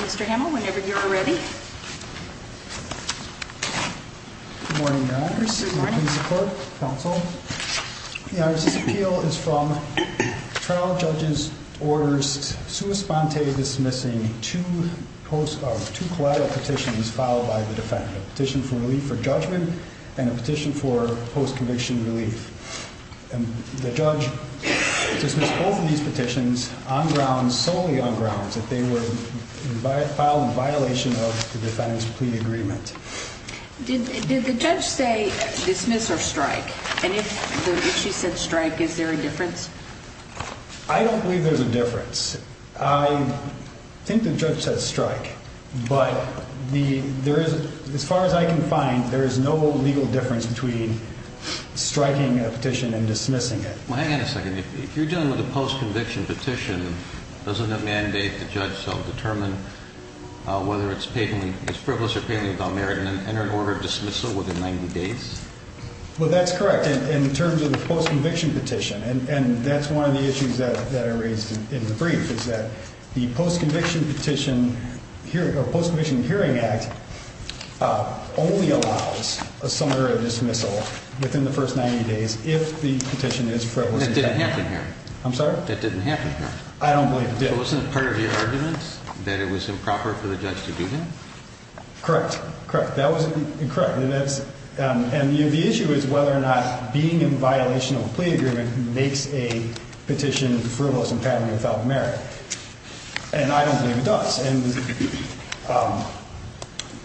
Mr. Hamill, whenever you're ready. The appeal is from trial judges orders to respond to a dismissing to post of two collateral petitions filed by the defendant petition for relief for judgment and a petition for post conviction relief and the judge dismissed both of these petitions on ground solely on grounds that they were filed in violation of the defendant's plea agreement. Did the judge say dismiss or strike? And if she said strike, is there a difference? I don't believe there's a difference. I think the judge said strike. But the there is as far as I can find, there is no legal difference between striking a petition and dismissing it. Well, hang on a second. If you're dealing with a post conviction petition, doesn't that mandate the judge self determine whether it's paid when it's frivolous or failing without merit and then enter an order of dismissal within 90 days? Well, that's correct. In terms of the post conviction petition. And that's one of the issues that are raised in the brief is that the post conviction petition here, the Post Conviction Hearing Act only allows a summative dismissal within the first 90 days if the didn't happen here. I'm sorry. That didn't happen here. I don't believe it wasn't part of your arguments that it was improper for the judge to do that. Correct. Correct. That was correct. And that's and the issue is whether or not being in violation of a plea agreement makes a petition frivolous and failing without merit. And I don't think it does.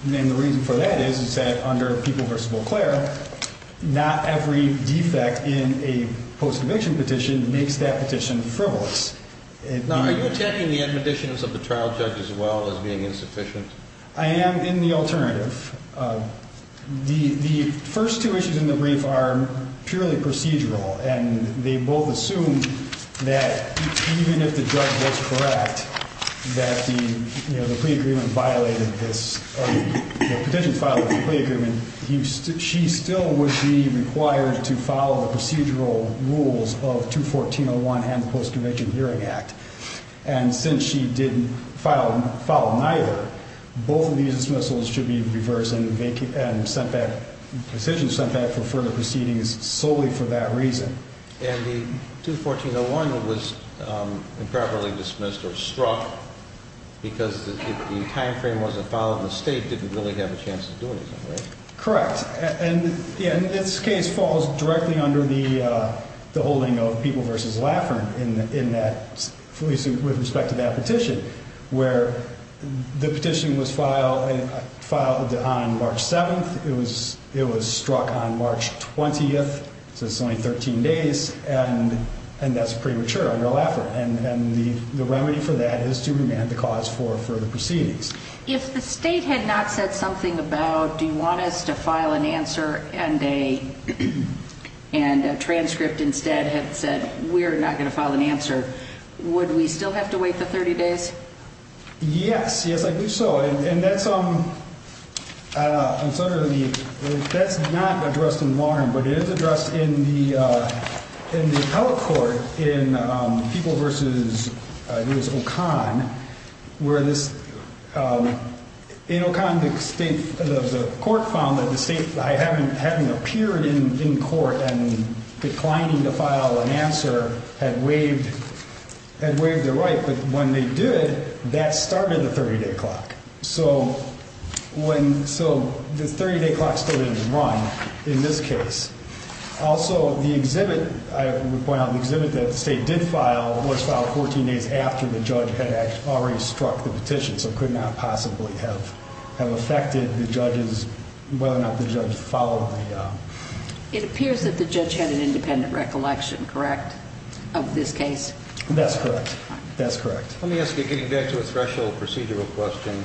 And the reason for that is, is that under People v. Eau Claire, not every defect in a post conviction petition makes that petition frivolous. Now, are you attacking the admonitions of the trial judge as well as being insufficient? I am in the alternative. The first two issues in the brief are purely procedural, and they both assume that even if the judge was correct, that the plea agreement violated this petition filed with the plea agreement, she still would be required to follow the procedural rules of 214-01 and the Post Conviction Hearing Act. And since she didn't follow neither, both of these dismissals should be reversed and decisions sent back for further proceedings solely for that reason. And the 214-01 was improperly dismissed or struck because the time frame wasn't followed and the state didn't really have a chance to do anything, right? Correct. And this case falls directly under the holding of People v. Laffern in that, at least with respect to that petition, where the petition was filed on March 7th. It was struck on March 20th, so it's only 13 days, and that's premature under Laffern. And the remedy for that is to remand the cause for further proceedings. If the state had not said something about, do you want us to file an answer, and a transcript instead had said, we're not going to file an answer, would we still have to wait the 30 days? Yes, yes, I do so. And that's not addressed in Warren, but it is addressed in the appellate court in People v. O'Conn, where in O'Conn the court found that the state, having appeared in court and declining to file an answer, had waived their right. But when they did, that started the 30 day clock. So the 30 day clock still didn't run in this case. Also, the exhibit, I would point out the exhibit that the state did file was filed 14 days after the judge had already struck the petition, so it could not possibly have affected the judges, whether or not the judge followed the... It appears that the judge had an independent recollection, correct, of this case? That's correct, that's correct. Let me ask you, getting back to a threshold procedural question,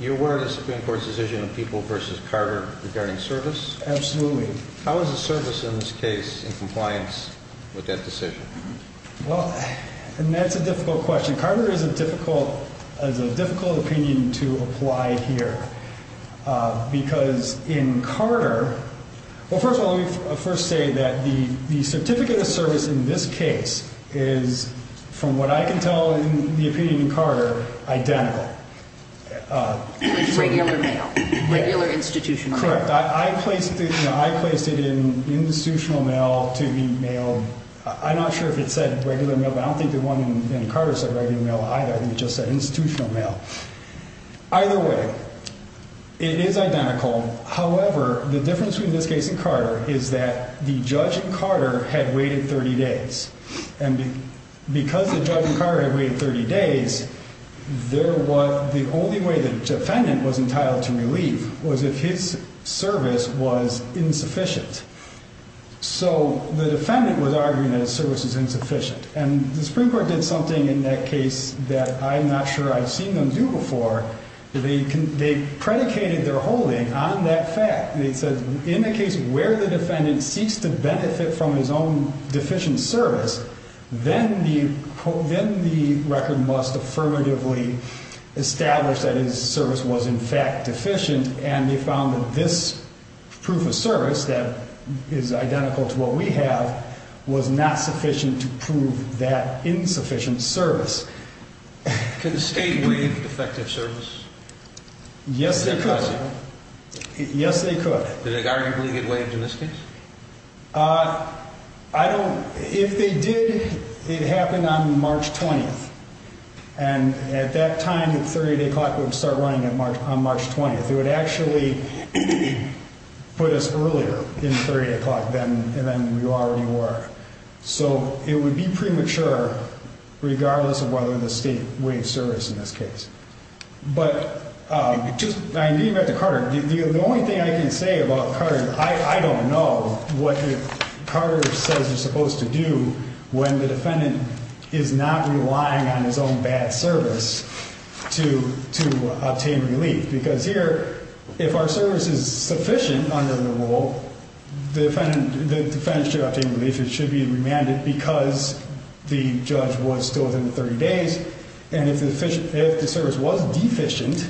you're aware of the Supreme Court's decision in People v. Carter regarding service? Absolutely. How is the service in this case in compliance with that decision? Well, and that's a difficult question. Carter has a difficult opinion to apply here, because in Carter... Well, first of all, let me first say that the certificate of service in this case is, from what I can tell in the opinion of Carter, identical. With regular mail, regular institutional mail? Correct. I placed it in institutional mail to be mailed. I'm not sure if it said regular mail, but I don't think the one in Carter said regular mail either. I think it just said institutional mail. Either way, it is identical. However, the difference between this case and Carter is that the judge in Carter had waited 30 days. The only way the defendant was entitled to relief was if his service was insufficient. So the defendant was arguing that his service is insufficient, and the Supreme Court did something in that case that I'm not sure I've seen them do before. They predicated their holding on that fact. They said, in the case where the defendant seeks to benefit from his own must affirmatively establish that his service was in fact deficient, and they found that this proof of service that is identical to what we have was not sufficient to prove that insufficient service. Could the state waive defective service? Yes, they could. Yes, they could. Did it arguably get waived in this case? If they did, it happened on March 20th, and at that time, the 30-day clock would start running on March 20th. It would actually put us earlier in the 30-day clock than we already were. So it would be premature regardless of whether the state waived in this case. The only thing I can say about Carter is I don't know what Carter says you're supposed to do when the defendant is not relying on his own bad service to obtain relief. Because here, if our service is sufficient under the rule, the defendant should obtain relief. It the service was deficient,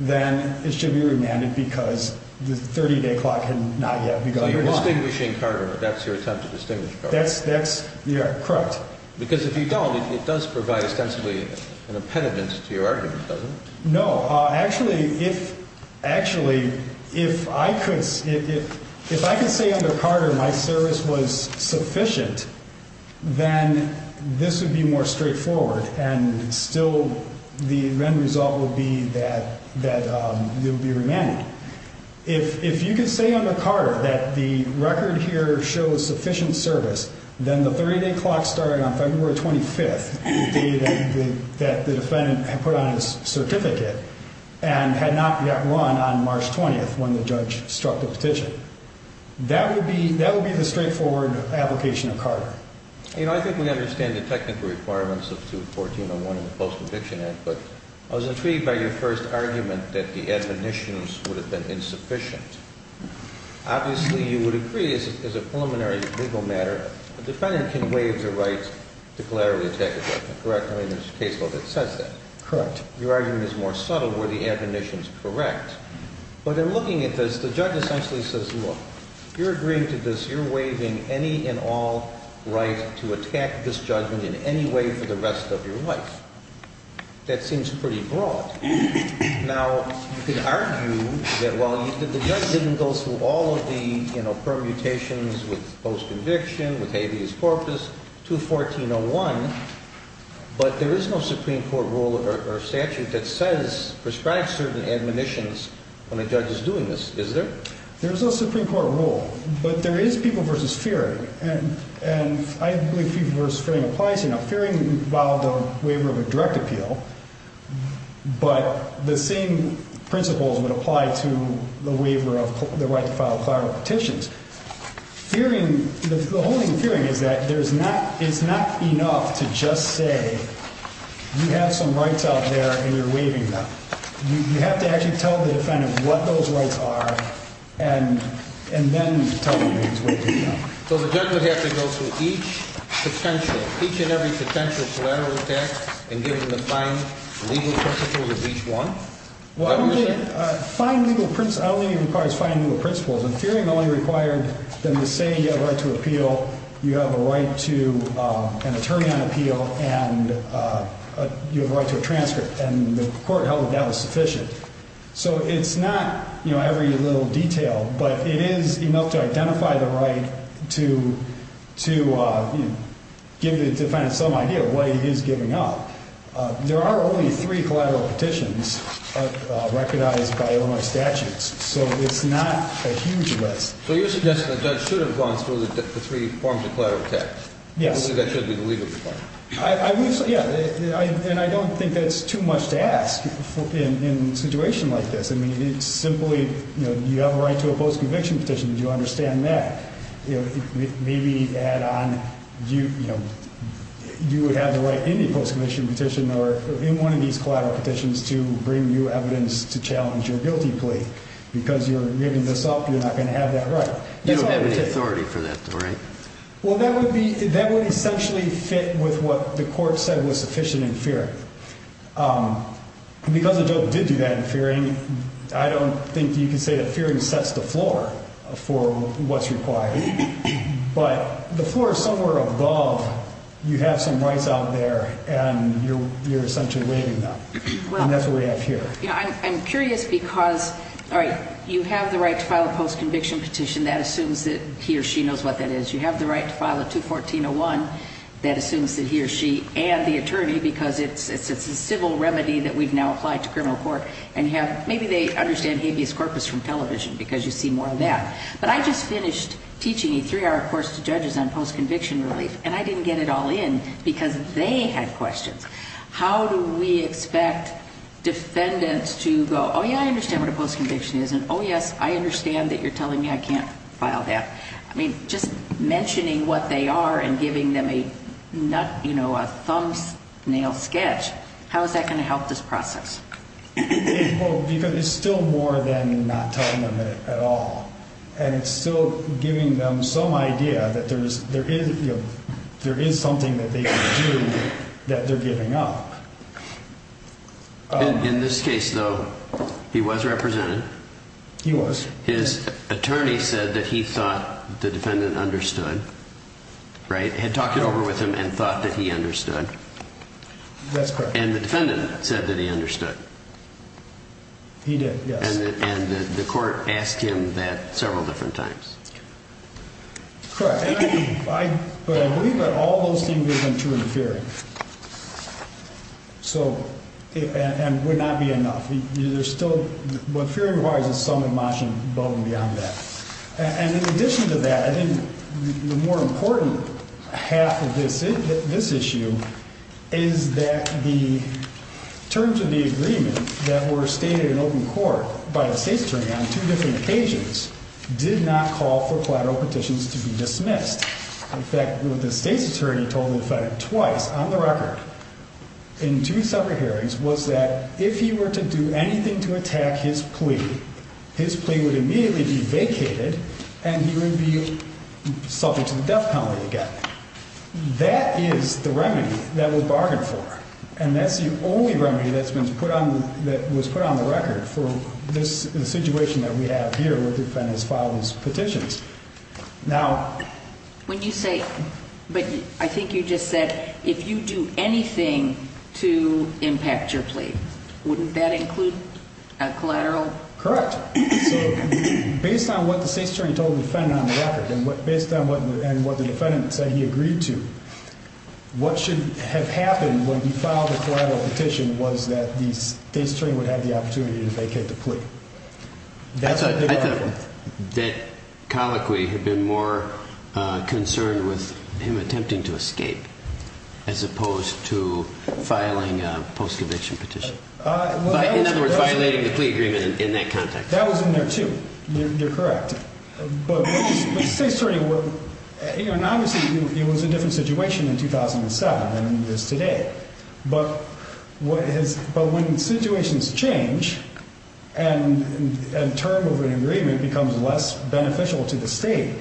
then it should be remanded because the 30-day clock had not yet begun. You're distinguishing Carter. That's your attempt to distinguish Carter. That's correct. Because if you don't, it does provide ostensibly an impediment to your argument, doesn't it? No. Actually, if I could say under Carter my service was sufficient, then this would be more straightforward, and still the end result would be that it would be remanded. If you could say under Carter that the record here shows sufficient service, then the 30-day clock started on February 25th, the day that the defendant had put on his certificate and had not yet run on March 20th when the judge struck the petition. That would be the straightforward application of Carter. You know, I think we understand the technical requirements of 21401 in the Post-Conviction Act, but I was intrigued by your first argument that the admonitions would have been insufficient. Obviously, you would agree as a preliminary legal matter, a defendant can waive the right to collaterally attack a defendant, correct? I mean, there's a case law that says that. Correct. Your argument is more subtle. Were the admonitions correct? But in looking at this, the judge essentially says, look, you're agreeing to this, you're waiving any and all right to attack this judgment in any way for the rest of your life. That seems pretty broad. Now, you could argue that, well, the judge didn't go through all of the, you know, permutations with post-conviction, with habeas corpus, 21401, but there is no Supreme Court rule or statute that says prescribe certain admonitions when a judge is doing this, is there? There's no Supreme Court rule, but there is people versus fearing. And I believe people versus fearing applies here. Now, fearing would involve the waiver of a direct appeal, but the same principles would apply to the waiver of the right to file collateral petitions. Fearing, the whole thing with fearing is that there's not, it's not enough to just say you have some rights out there and you're waiving them. You have to actually tell the defendant what those rights are and then tell them who's waiving them. So the judge would have to go through each potential, each and every potential collateral attack and give them the fine legal principles of each one? Well, fine legal, I don't think it requires fine legal principles. In theory, it only required them to say you have a right to appeal. You have a right to an attorney on appeal and you have a right to a transcript and the court held that that was sufficient. So it's not, you know, every little detail, but it is enough to identify the right to, to give the defendant some idea of what he is giving up. There are only three collateral petitions recognized by Illinois statutes, so it's not a huge list. So you're suggesting the judge should have gone through the three forms of collateral attacks? I believe that should be the legal requirement. I, yeah, and I don't think that's too much to ask in a situation like this. I mean, it's simply, you know, you have a right to a post-conviction petition. Did you understand that? Maybe add on, you know, you would have the right in a post-conviction petition or in one of these collateral petitions to bring you evidence to challenge your guilty plea because you're giving this up, you're not going to have that right. You don't have any authority for that though, right? Well, that would be, that would essentially fit with what the court said was sufficient in fearing. Because the joke did do that in fearing, I don't think you can say that fearing sets the floor for what's required, but the floor is somewhere above, you have some rights out there and you're, you're essentially waiving them. And that's what we have here. Yeah. I'm curious because, all right, you have the right to file a post-conviction petition that assumes that he or she knows what that is. You have the right to file a 214-01 that assumes that he or she and the attorney, because it's, it's, it's a civil remedy that we've now applied to criminal court and have, maybe they understand habeas corpus from television because you see more of that. But I just finished teaching a three hour course to judges on post-conviction relief and I didn't get it all in because they had How do we expect defendants to go, oh yeah, I understand what a post-conviction is. And oh yes, I understand that you're telling me I can't file that. I mean, just mentioning what they are and giving them a nut, you know, a thumbnail sketch, how is that going to help this process? Because it's still more than not telling them that at all. And it's still giving them some idea that there is, there is, there is something that they can do that they're giving up. In this case though, he was represented. He was. His attorney said that he thought the defendant understood, right? Had talked it over with him and thought that he understood. That's correct. And the defendant said that he understood. He did, and the court asked him that several different times. Correct. But I believe that all those things isn't true in the fearing. So, and would not be enough. There's still, what fearing requires is some emotion above and beyond that. And in addition to that, I think the more important half of this issue is that the terms of the agreement that were stated in open court by the state's attorney on two different occasions did not call for collateral petitions to be dismissed. In fact, what the state's attorney told the defendant twice on the record in two separate hearings was that if he were to do anything to attack his plea, his plea would immediately be vacated and he would be subject to the death penalty again. That is the remedy that was bargained for. And that's the only remedy that's been put on, that was put on the record for this situation that we have here where the defendant has filed his petitions. Now, when you say, but I think you just said if you do anything to impact your plea, wouldn't that include a collateral? Correct. So based on what the state's attorney told the defendant on the record and what, based on what, and what the defendant said he agreed to, what should have happened when he filed a collateral petition was that the state's attorney would have the opportunity to vacate the plea. I thought that colloquy had been more concerned with him attempting to escape as opposed to filing a post-eviction petition. In other words, violating the plea agreement in that context. That was in there too. You're correct. But the state's attorney, and obviously it was a different situation in 2007 than it is today, but when situations change and a term of an agreement becomes less beneficial to the state,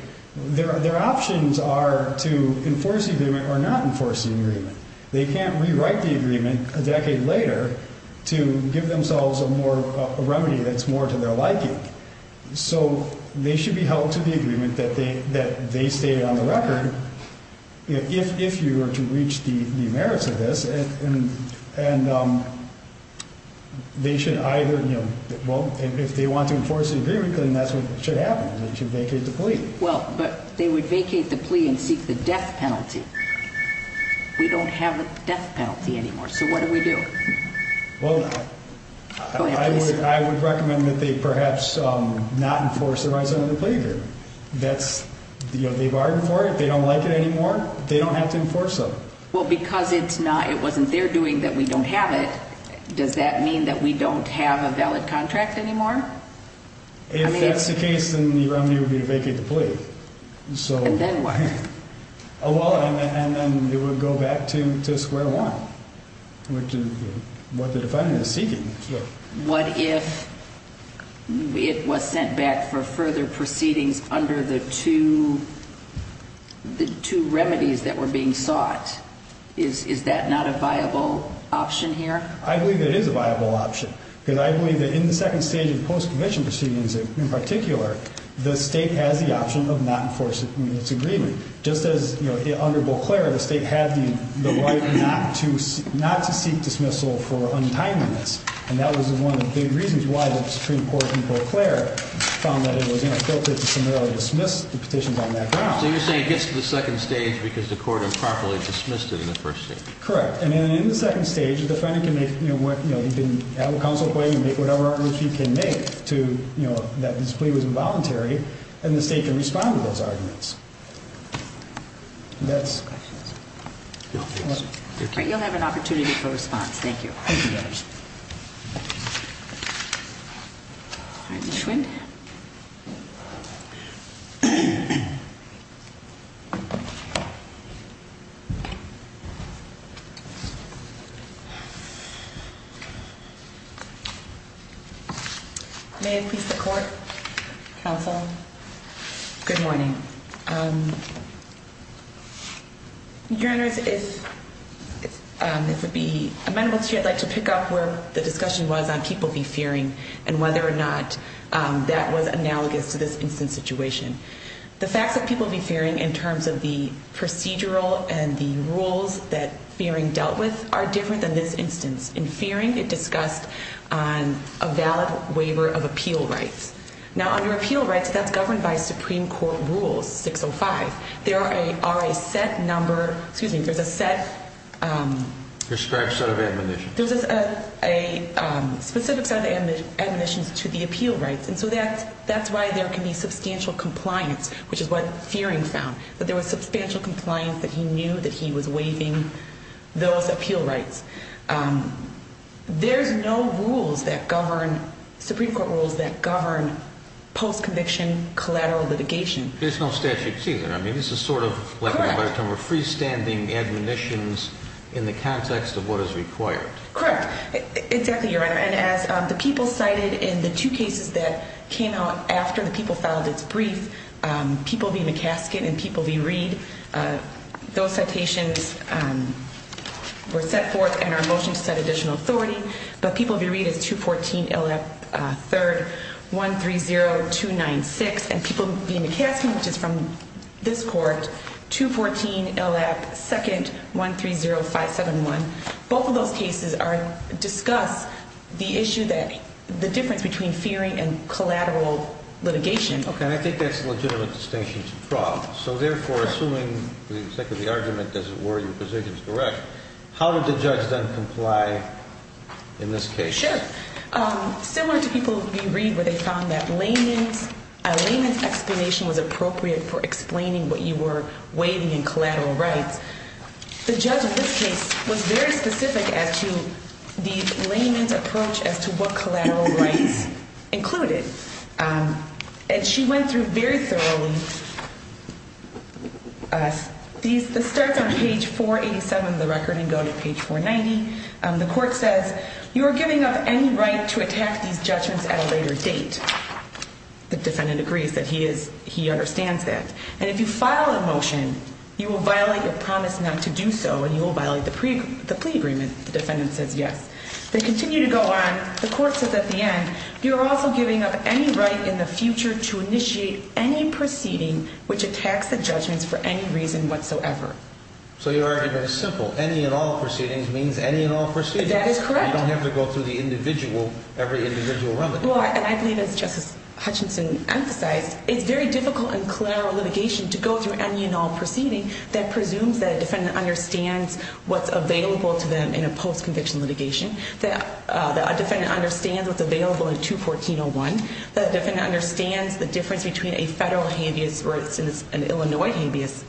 their options are to enforce the agreement or not enforce the agreement. They can't rewrite the agreement a decade later to give themselves a more, a remedy that's more to their liking. So they should be held to the agreement that they, that they stated on the record. If, if you were to reach the merits of this and, and they should either, you know, well, if they want to enforce the agreement, then that's what should happen. They should vacate the plea and seek the death penalty. We don't have a death penalty anymore. So what do we do? Well, I would recommend that they perhaps not enforce the rise of the plea agreement. That's the, you know, they bargained for it. They don't like it anymore. They don't have to enforce them. Well, because it's not, it wasn't their doing that. We don't have it. Does that mean that we don't have a valid contract anymore? If that's the case, then the remedy would be to vacate the plea. So, and then what? Oh, well, and then it would go back to, to square one, which is what the defendant is seeking. What if it was sent back for further proceedings under the two, the two remedies that were being sought? Is, is that not a viable option here? I believe it is a viable option because I believe that in the second stage of post-conviction proceedings, in particular, the state has the option of not enforcing its agreement. Just as you know, under Beauclair, the state had the right not to, not to seek dismissal for untimeliness. And that was one of the big reasons why the Supreme Court in Beauclair found that it was, you know, filtered to similarly dismiss the petitions on that ground. So you're saying it gets to the second stage because the court improperly dismissed it in the first stage? Correct. And then in the second stage, the defendant can make, you know, what, you know, have a counsel claim and make whatever arguments he can make to, you know, that this plea was involuntary and the state can respond to those arguments. That's... You'll have an opportunity for response. Thank you. May it please the court, counsel. Good morning. Your Honor, if, if it would be amenable to you, I'd like to pick up where the discussion was on people be fearing and whether or not that was analogous to this instance situation. The facts that people be fearing in terms of the procedural and the rules that fearing dealt with are different than this instance. In fearing, it discussed a valid waiver of appeal rights. Now under appeal rights, that's governed by Supreme Court rules 605. There are a set number, excuse me, there's a set... Described set of admonitions. There's a specific set of admonitions to the appeal rights. And so that, that's why there can be substantial compliance, which is what fearing found, that there was substantial compliance, that he knew that he was waiving those appeal rights. There's no rules that govern Supreme Court rules that govern post-conviction collateral litigation. There's no statutes either. I mean, this is sort of like a better term of freestanding admonitions in the context of what is required. Correct. Exactly. Your Honor. And as the people cited in the two cases that came out after the people found it's brief, people be McCaskill and people be Reed. Those citations were set forth in our motion to set additional authority, but people be Reed is 214 LF 3rd 130296. And people be McCaskill, which is from this court, 214 LF 2nd 130571. Both of those cases discuss the issue that the difference between fearing and So therefore, assuming the argument doesn't worry your position is correct. How did the judge then comply in this case? Sure. Similar to people be Reed where they found that layman's explanation was appropriate for explaining what you were waiving in collateral rights. The judge in this case was very specific as to the layman's approach as to what collateral rights included. And she went through very thoroughly. This starts on page 487 of the record and go to page 490. The court says, you are giving up any right to attack these judgments at a later date. The defendant agrees that he understands that. And if you file a motion, you will violate your promise not to do so, and you will violate the plea agreement. The defendant says yes. They continue to go on. The court says at the end, you're also giving up any right in the future to initiate any proceeding which attacks the judgments for any reason whatsoever. So your argument is simple. Any and all proceedings means any and all procedures. That is correct. You don't have to go through the individual, every individual remedy. And I believe it's Justice Hutchinson emphasized. It's very difficult and collateral litigation to go through any and all proceeding that presumes that defendant understands what's available to them in a post conviction litigation that a defendant understands what's available in 214-01, that the defendant understands the difference between a federal habeas or an Illinois habeas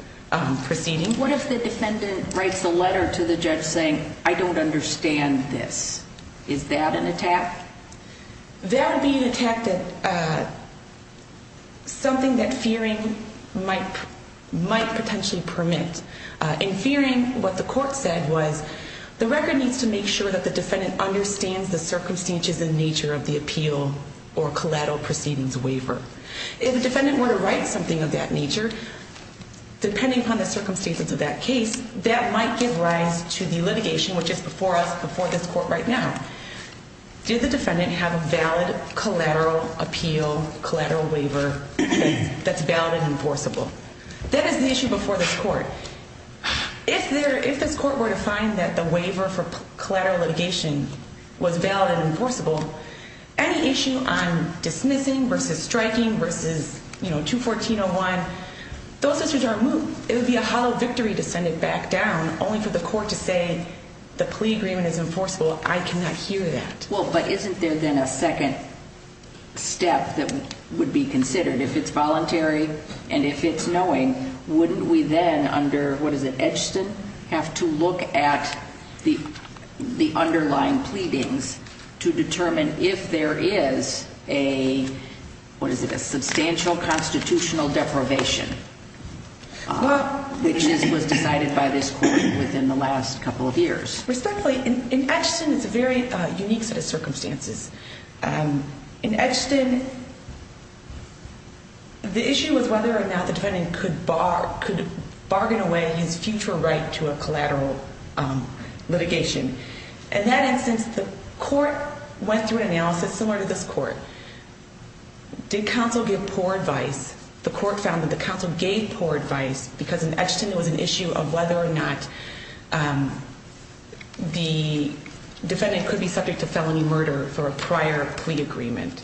proceeding. What if the defendant writes a letter to the judge saying, I don't understand this? Is that an attack? That would be an attack that something that fearing might potentially permit. In fearing what the court said was, the record needs to make sure that the defendant understands the circumstances and nature of the appeal or collateral proceedings waiver. If the defendant were to write something of that nature, depending upon the circumstances of that case, that might give rise to the litigation, which is before us, before this court right now. Did the defendant have a valid collateral appeal, collateral waiver that's valid and enforceable? That is the issue before this court. If this court were to find that the waiver for collateral litigation was valid and enforceable, any issue on dismissing versus striking versus, you know, 214-01, those issues are removed. It would be a hollow victory to send it back down only for the court to say the plea agreement is enforceable. I cannot hear that. Well, but isn't there then a second step that would be considered if it's voluntary and if it's knowing, wouldn't we then under, what is it, Edgston, have to look at the underlying pleadings to determine if there is a, what is it, a substantial constitutional deprivation, which was decided by this court within the last couple of years? Respectfully, in Edgston, it's a very unique set of circumstances. In Edgston, the issue was whether or not the defendant could bar, could bargain away his future right to a collateral litigation. In that instance, the court went through an analysis similar to this court. Did counsel give poor advice? The court found that the counsel gave poor advice because in Edgston it was an issue of whether or not the defendant could be subject to felony murder for a prior plea agreement.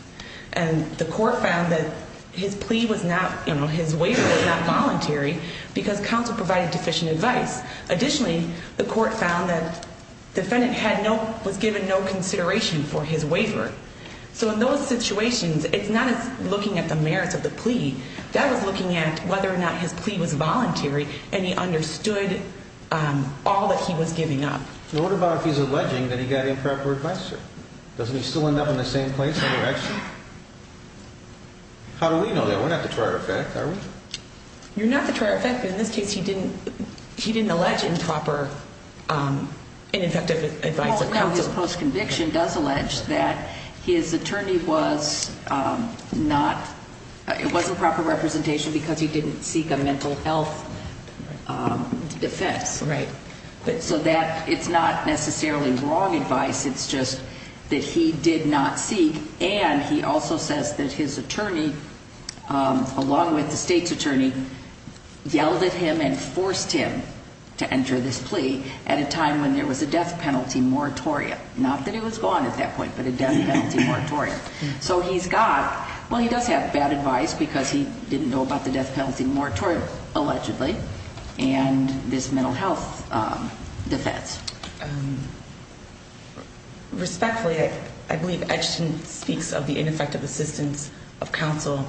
And the court found that his plea was not, you know, his waiver was not voluntary because counsel provided deficient advice. Additionally, the court found that defendant had no, was given no consideration for his waiver. So in those situations, it's not as looking at the merits of the plea, that was looking at whether or not his plea was voluntary and he understood all that he was giving up. What about if he's alleging that he got improper advice, sir? Doesn't he still end up in the same place? How do we know that? We're not the trier effect, are we? You're not the trier effect, but in this case, he didn't, he didn't allege improper, um, ineffective advice. His post conviction does allege that his attorney was, um, not, it wasn't proper representation because he didn't seek a mental health, um, defense. Right. So that it's not necessarily wrong advice. It's just that he did not seek. And he also says that his attorney, um, along with the state's attorney yelled at him and forced him to enter this plea at a time when there was a death penalty moratoria. Not that it was gone at that point, but a death penalty moratoria. So he's got, well, he does have bad advice because he didn't know about the death penalty moratoria allegedly and this mental health, um, defense. Um, respectfully, I, I believe Edgerton speaks of the ineffective assistance of counsel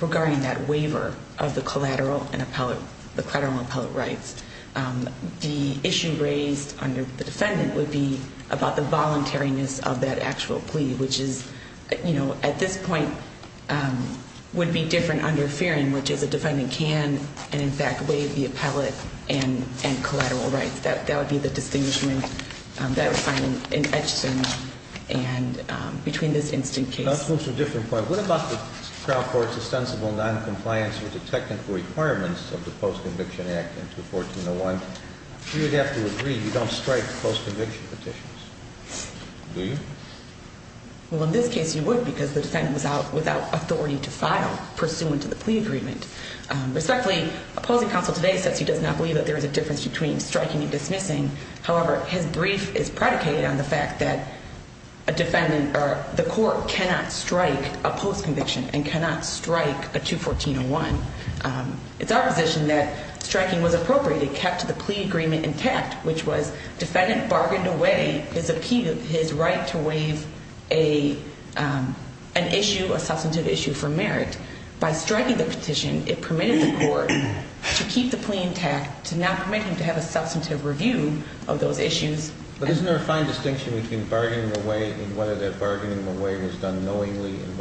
regarding that waiver of the collateral and appellate, the collateral and appellate rights. Um, the issue raised under the defendant would be about the voluntariness of that actual plea, which is, you know, at this point, um, would be different under Fearon, which is a defendant can, and in fact, waive the appellate and collateral rights. That, that would be the distinguishment, um, that would find in Edgerton and, um, between this instant case. That's a different point. What about the trial court's ostensible non-compliance with technical requirements of the Post-Conviction Act in 214-01? You would have to agree you don't strike post-conviction petitions. Do you? Well, in this case you would because the defendant was out without authority to file pursuant to the plea agreement. Um, respectfully, opposing counsel today says he does not believe that there is a difference between striking and dismissing. However, his brief is predicated on the fact that a defendant or the court cannot strike a petition in 214-01. Um, it's our position that striking was appropriate. It kept the plea agreement intact, which was defendant bargained away his appeal, his right to waive a, um, an issue, a substantive issue for merit. By striking the petition, it permitted the court to keep the plea intact, to not permit him to have a substantive review of those issues. But isn't there a fine distinction between bargaining away and whether that bargaining away was done knowingly and if you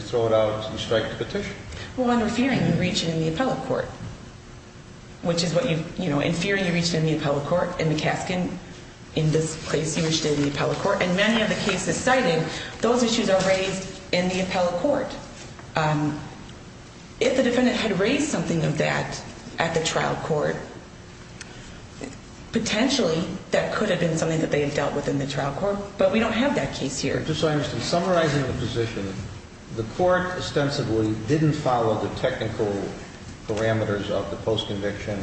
throw it out, you strike the petition? Well, under fearing, you reach it in the appellate court, which is what you, you know, in fearing, you reach it in the appellate court. In the Kaskin, in this case, you reached it in the appellate court. And many of the cases cited, those issues are raised in the appellate court. Um, if the defendant had raised something of that at the trial court, potentially that could have been something that they had dealt with in the The court ostensibly didn't follow the technical parameters of the post-conviction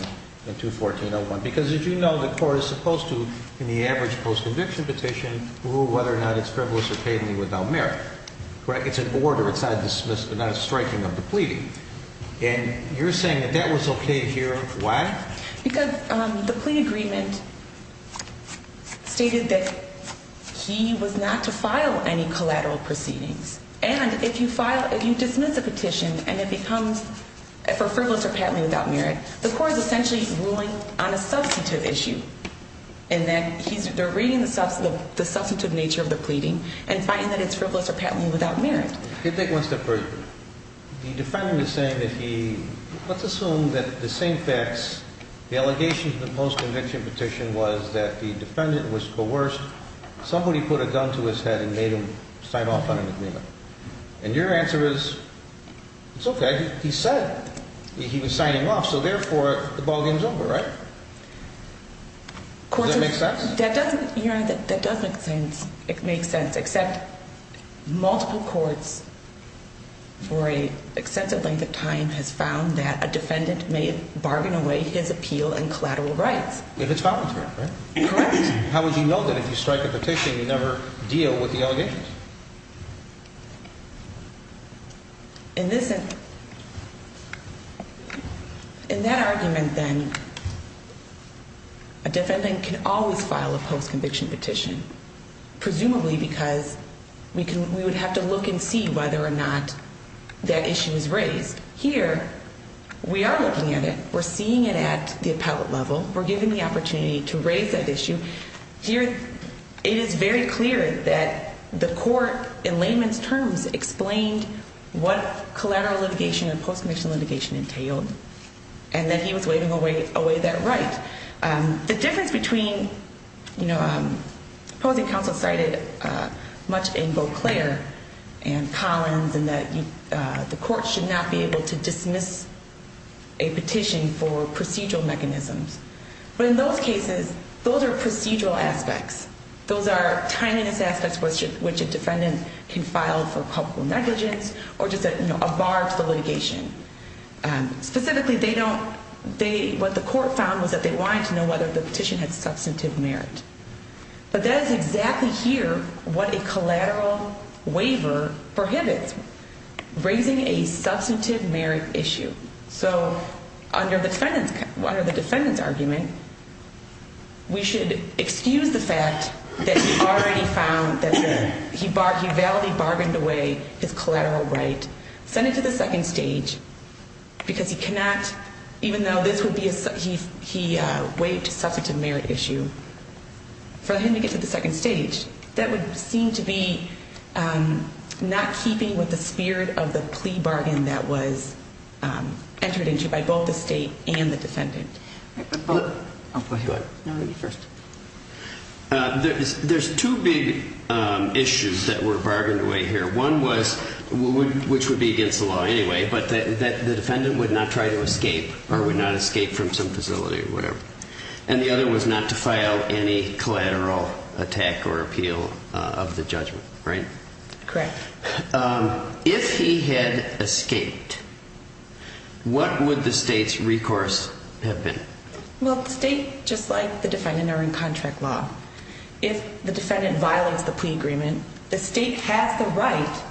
in 214-01, because as you know, the court is supposed to, in the average post-conviction petition, rule whether or not it's frivolous or patently without merit, right? It's an order. It's not dismiss, not a striking of the pleading. And you're saying that that was okay here. Why? Because, um, the plea agreement stated that he was not to file any collateral proceedings and if you file, if you dismiss a petition and it becomes for frivolous or patently without merit, the court is essentially ruling on a substantive issue. And that he's, they're reading the substantive nature of the pleading and finding that it's frivolous or patently without merit. The defendant was saying that he, let's assume that the same facts, the allegations of the post-conviction petition was that the defendant was coerced. Somebody put a gun to his head and signed off on an agreement. And your answer is, it's okay. He said he was signing off. So therefore the ball game's over, right? Does that make sense? That doesn't, yeah, that does make sense. It makes sense. Except multiple courts for an extensive length of time has found that a defendant may bargain away his appeal and collateral rights. If it's commentary, right? How would you know that if you strike a petition, you never deal with the allegations? In this, in that argument then, a defendant can always file a post-conviction petition, presumably because we can, we would have to look and see whether or not that issue is raised. Here, we are looking at it. We're seeing it at the appellate level. We're given the opportunity to raise that issue. Here, it is very clear that the court, in layman's terms, explained what collateral litigation and post-conviction litigation entailed and that he was waiving away that right. The difference between, you know, opposing counsel cited much in Beauclair and Collins and that the court should not be able to dismiss a petition for procedural mechanisms. But in those cases, those are procedural aspects. Those are tininess aspects which a defendant can file for public negligence or just a bar to the litigation. Specifically, they don't, what the court found was that they wanted to know whether the petition had substantive merit. But that is exactly here what a collateral waiver prohibits, raising a substantive merit issue. So under the defendant's argument, we should excuse the fact that he already found that he validly bargained away his collateral right. Send it to the second stage because he cannot, even though this would be a, he waived a substantive merit issue, for him to get to the second stage, that would seem to be not keeping with the spirit of the plea bargain that was entered into by both the state and the defendant. There's two big issues that were bargained away here. One was, which would be against the law anyway, but that the defendant would not try to escape or would not escape from some facility or whatever. And the other was not to file any collateral attack or appeal of the judgment, right? Correct. If he had escaped, what would the state's recourse have been? Well, the state, just like the defendant, are in contract law. If the defendant violates the plea agreement, the state has the right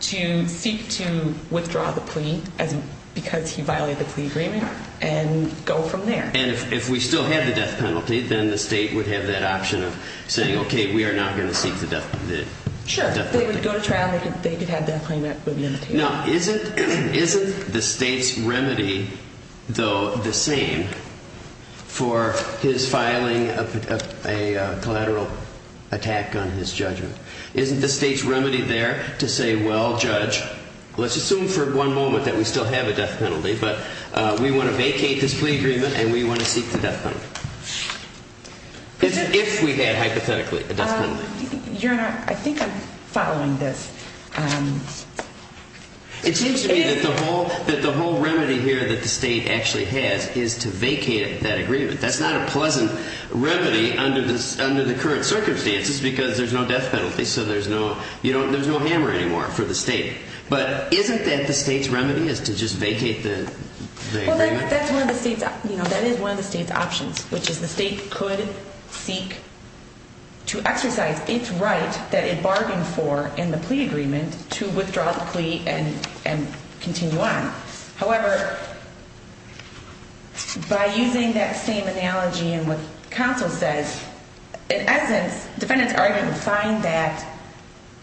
to seek to withdraw the plea because he violated the plea agreement and go from there. And if we still have the death penalty, then the state would have that option of saying, okay, we are not going to seek the death penalty. Sure. If they would go to trial, they could have that claim. Now, isn't the state's remedy though the same for his filing of a collateral attack on his judgment? Isn't the state's remedy there to say, well, judge, let's assume for one moment that we still have a death penalty, but we want to vacate this plea agreement and we want to seek the death penalty. If we had hypothetically a death penalty. Your Honor, I think I'm following this. It seems to me that the whole remedy here that the state actually has is to vacate that agreement. That's not a pleasant remedy under the current circumstances because there's no death penalty, so there's no hammer anymore for the state. But isn't that state's remedy is to just vacate the agreement? That is one of the state's options, which is the state could seek to exercise its right that it bargained for in the plea agreement to withdraw the plea and continue on. However, by using that same analogy and what counsel says, in essence, defendants are going to find that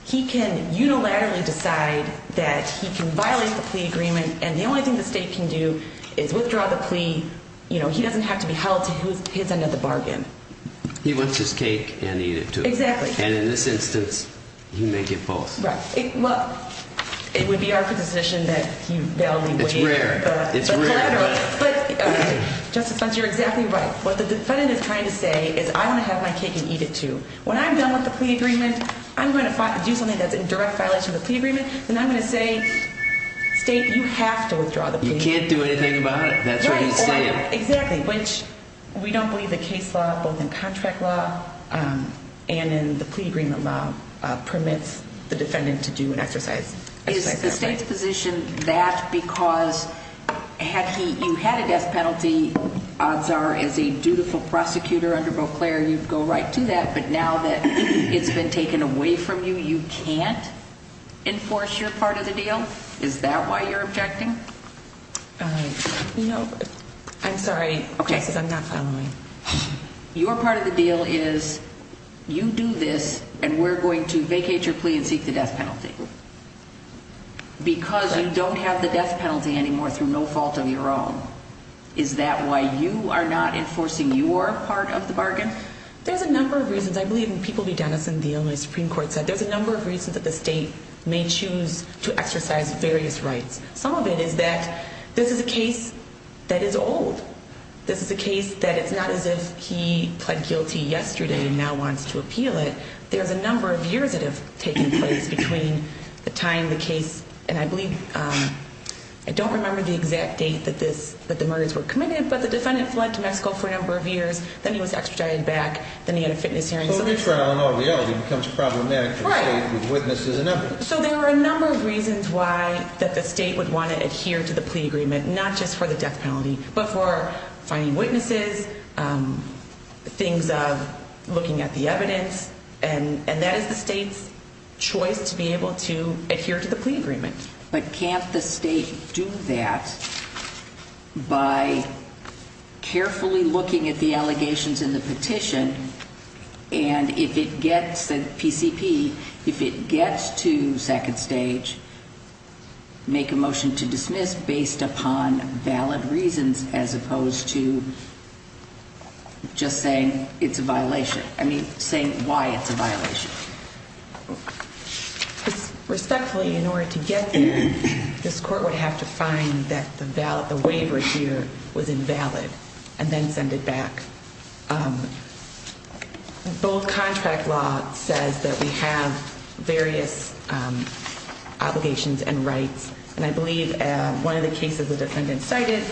he can unilaterally decide that he can violate the plea agreement and the only thing the state can do is withdraw the plea. You know, he doesn't have to be held to his end of the bargain. He wants his cake and eat it, too. Exactly. And in this instance, you make it false. Right. Well, it would be our position that he validly waited. It's rare. Justice Spencer, you're exactly right. What the defendant is trying to say is I want to have my cake and eat it, too. When I'm done with the plea agreement, I'm going to do something that's in direct violation of the plea agreement. Then I'm going to say, state, you have to withdraw the plea. You can't do anything about it. That's what he's saying. Exactly. Which we don't believe the case law, both in contract law and in the plea agreement law, permits the defendant to do an exercise. Is the state's position that because had he, you had a death penalty, odds are as a dutiful prosecutor under Beauclair, you'd go right to that. But now that it's been taken away from you, you can't enforce your part of the deal. Is that why you're objecting? No, I'm sorry. Okay. Your part of the deal is you do this and we're going to vacate your plea and seek the death penalty because you don't have the death penalty anymore through no fault of your own. Is that why you are not enforcing your part of the bargain? There's a number of reasons. I believe in People v. Dennison, the Illinois Supreme Court said there's a number of reasons that the state may choose to exercise various rights. Some of it is that this is a case that is old. This is a case that it's not as if he pled guilty yesterday and now wants to appeal it. There's a number of years that have taken place between the time the case, and I believe, I don't remember the exact date that the murders were committed, but the defendant fled to Mexico for a number of years, then he was extradited back, then he had a fitness hearing. So retrial in all reality becomes problematic for the state with witnesses and evidence. So there are a number of reasons why that the state would want to adhere to the plea agreement, not just for the death penalty, but for finding witnesses, things of looking at the evidence, and that is the state's choice to be able to But can't the state do that by carefully looking at the allegations in the petition, and if it gets the PCP, if it gets to second stage, make a motion to dismiss based upon valid reasons as opposed to just saying it's a violation. I mean, saying why it's a violation. So respectfully, in order to get there, this court would have to find that the valid, the waiver here was invalid, and then send it back. Both contract law says that we have various obligations and rights, and I believe one of the cases the defendant cited,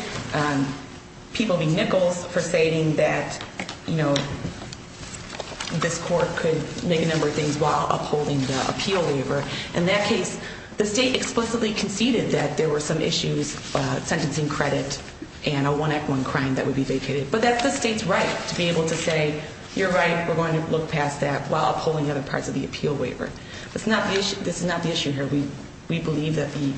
people being Nichols for stating that, you know, this court could make a number of things while upholding the appeal waiver. In that case, the state explicitly conceded that there were some issues, sentencing credit, and a one act one crime that would be vacated. But that's the state's right to be able to say, you're right, we're going to look past that while upholding other parts of the appeal waiver. That's not the issue. This is not the issue here. We believe that the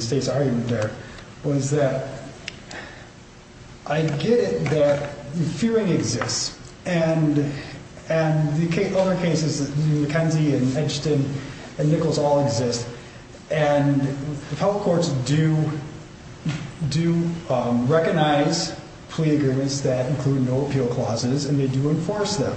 state's argument there was that I get it, that the fearing exists, and the other cases McKenzie and Edgerton and Nichols all exist. And the public courts do recognize plea agreements that include no appeal clauses, and they do enforce them.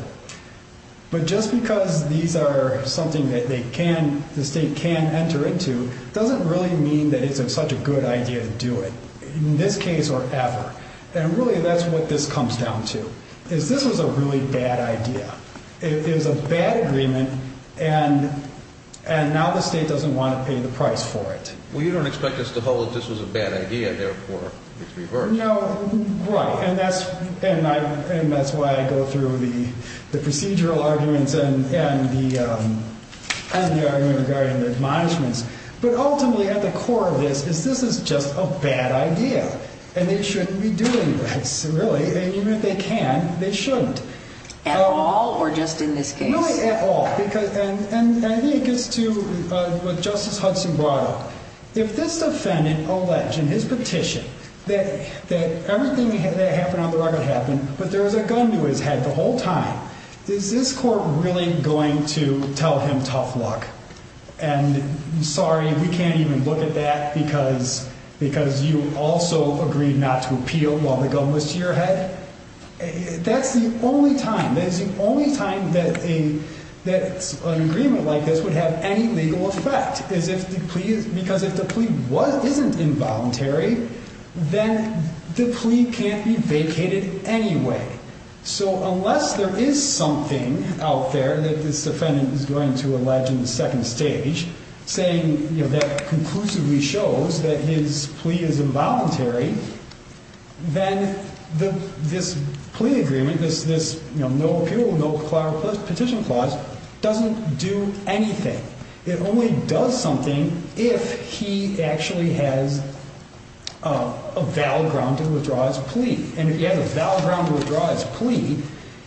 But just because these are something that they can, the state can enter into, doesn't really mean that it's such a good idea to do it, in this case or ever. And really, that's what this comes down to, is this was a really bad idea. It is a bad agreement, and now the state doesn't want to pay the price for it. Well, you don't expect us to hold that this was a bad idea, therefore, it's reversed. No, right. And that's why I go through the procedural arguments and the argument regarding the admonishments. But ultimately, at the core of this, is this is just a bad idea, and they shouldn't be doing this, really. And even if they can, they shouldn't. At all, or just in this case? Really, at all. And I think it gets to what Justice Hudson brought up. If this defendant alleged in his petition that everything that happened on the record happened, but there was a gun to his head the whole time, is this court really going to tell him tough luck? And sorry, we can't even look at that because you also agreed not to appeal while the gun was to your head? That's the only time, that's the only time that an agreement like this would have any legal effect, is if the plea, because if the plea wasn't involuntary, then the plea can't be vacated anyway. So unless there is something out there that this defendant is going to allege in the case, this plea agreement, this no appeal, no petition clause, doesn't do anything. It only does something if he actually has a valid ground to withdraw his plea. And if he has a valid ground to withdraw his plea,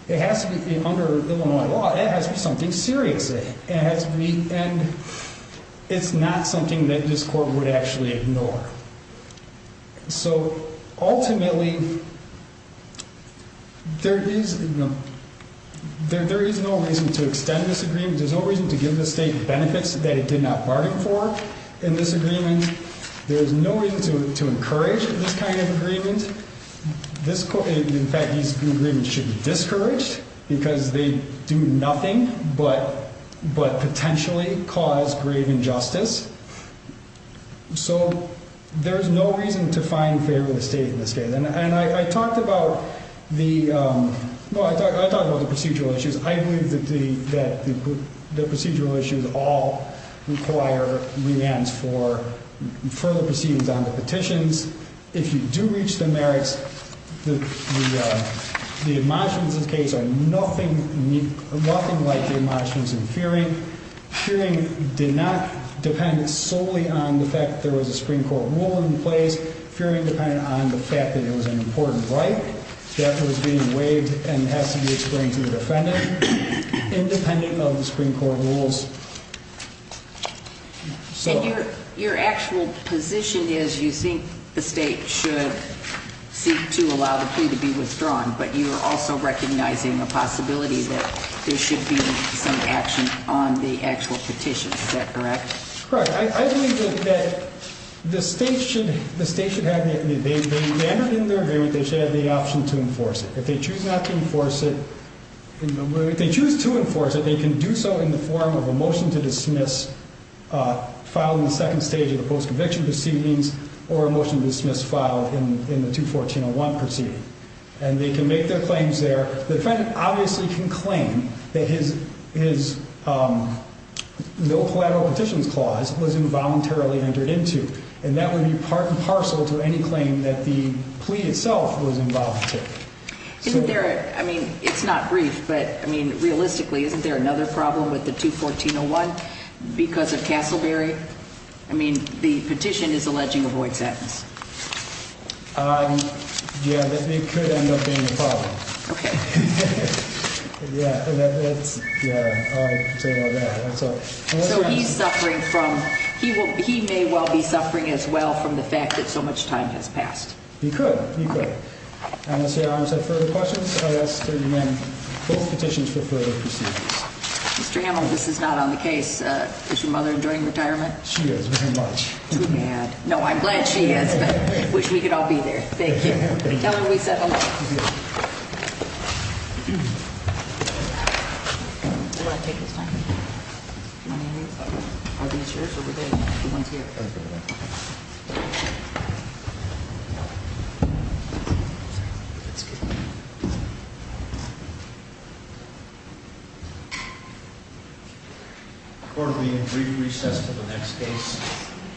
it has to be under Illinois law, it has to be something serious. And it's not that this court would actually ignore. So ultimately, there is no reason to extend this agreement. There's no reason to give the state benefits that it did not bargain for in this agreement. There's no reason to encourage this kind of agreement. In fact, these agreements should be discouraged because they do nothing but potentially cause grave injustice. So there's no reason to find favor with the state in this case. And I talked about the procedural issues. I believe that the procedural issues all require remands for further proceedings on the petitions. If you do nothing, nothing like the emotions and fearing, fearing did not depend solely on the fact that there was a Supreme Court rule in place, fearing dependent on the fact that it was an important right that was being waived and has to be explained to the defendant, independent of the Supreme Court rules. So your actual position is you think the state should seek to allow the plea to be withdrawn, but you're also recognizing the possibility that there should be some action on the actual petition. Is that correct? Correct. I believe that the state should have the option to enforce it. If they choose not to enforce it, if they choose to enforce it, they can do so in the form of a motion to dismiss following the second stage of the post conviction proceedings or a proceeding. And they can make their claims there. The fed obviously can claim that his, his, um, no collateral petitions clause was involuntarily entered into. And that would be part and parcel to any claim that the plea itself was involved. Isn't there, I mean, it's not brief, but I mean, realistically, isn't there another problem with the two 1401 because of Castleberry? I mean, the petition is alleging a void sentence. Um, yeah, that could end up being a problem. Okay. Yeah. So he's suffering from, he will, he may well be suffering as well from the fact that so much time has passed. He could, he could. I'm going to say, I don't have further questions. Mr. Hamill, this is not on the case. Uh, is your mother enjoying retirement? She is very much too bad. No, I'm glad she is. Wish we could all be there. Thank you. Tell her we said hello. Accordingly, in brief recess to the next case.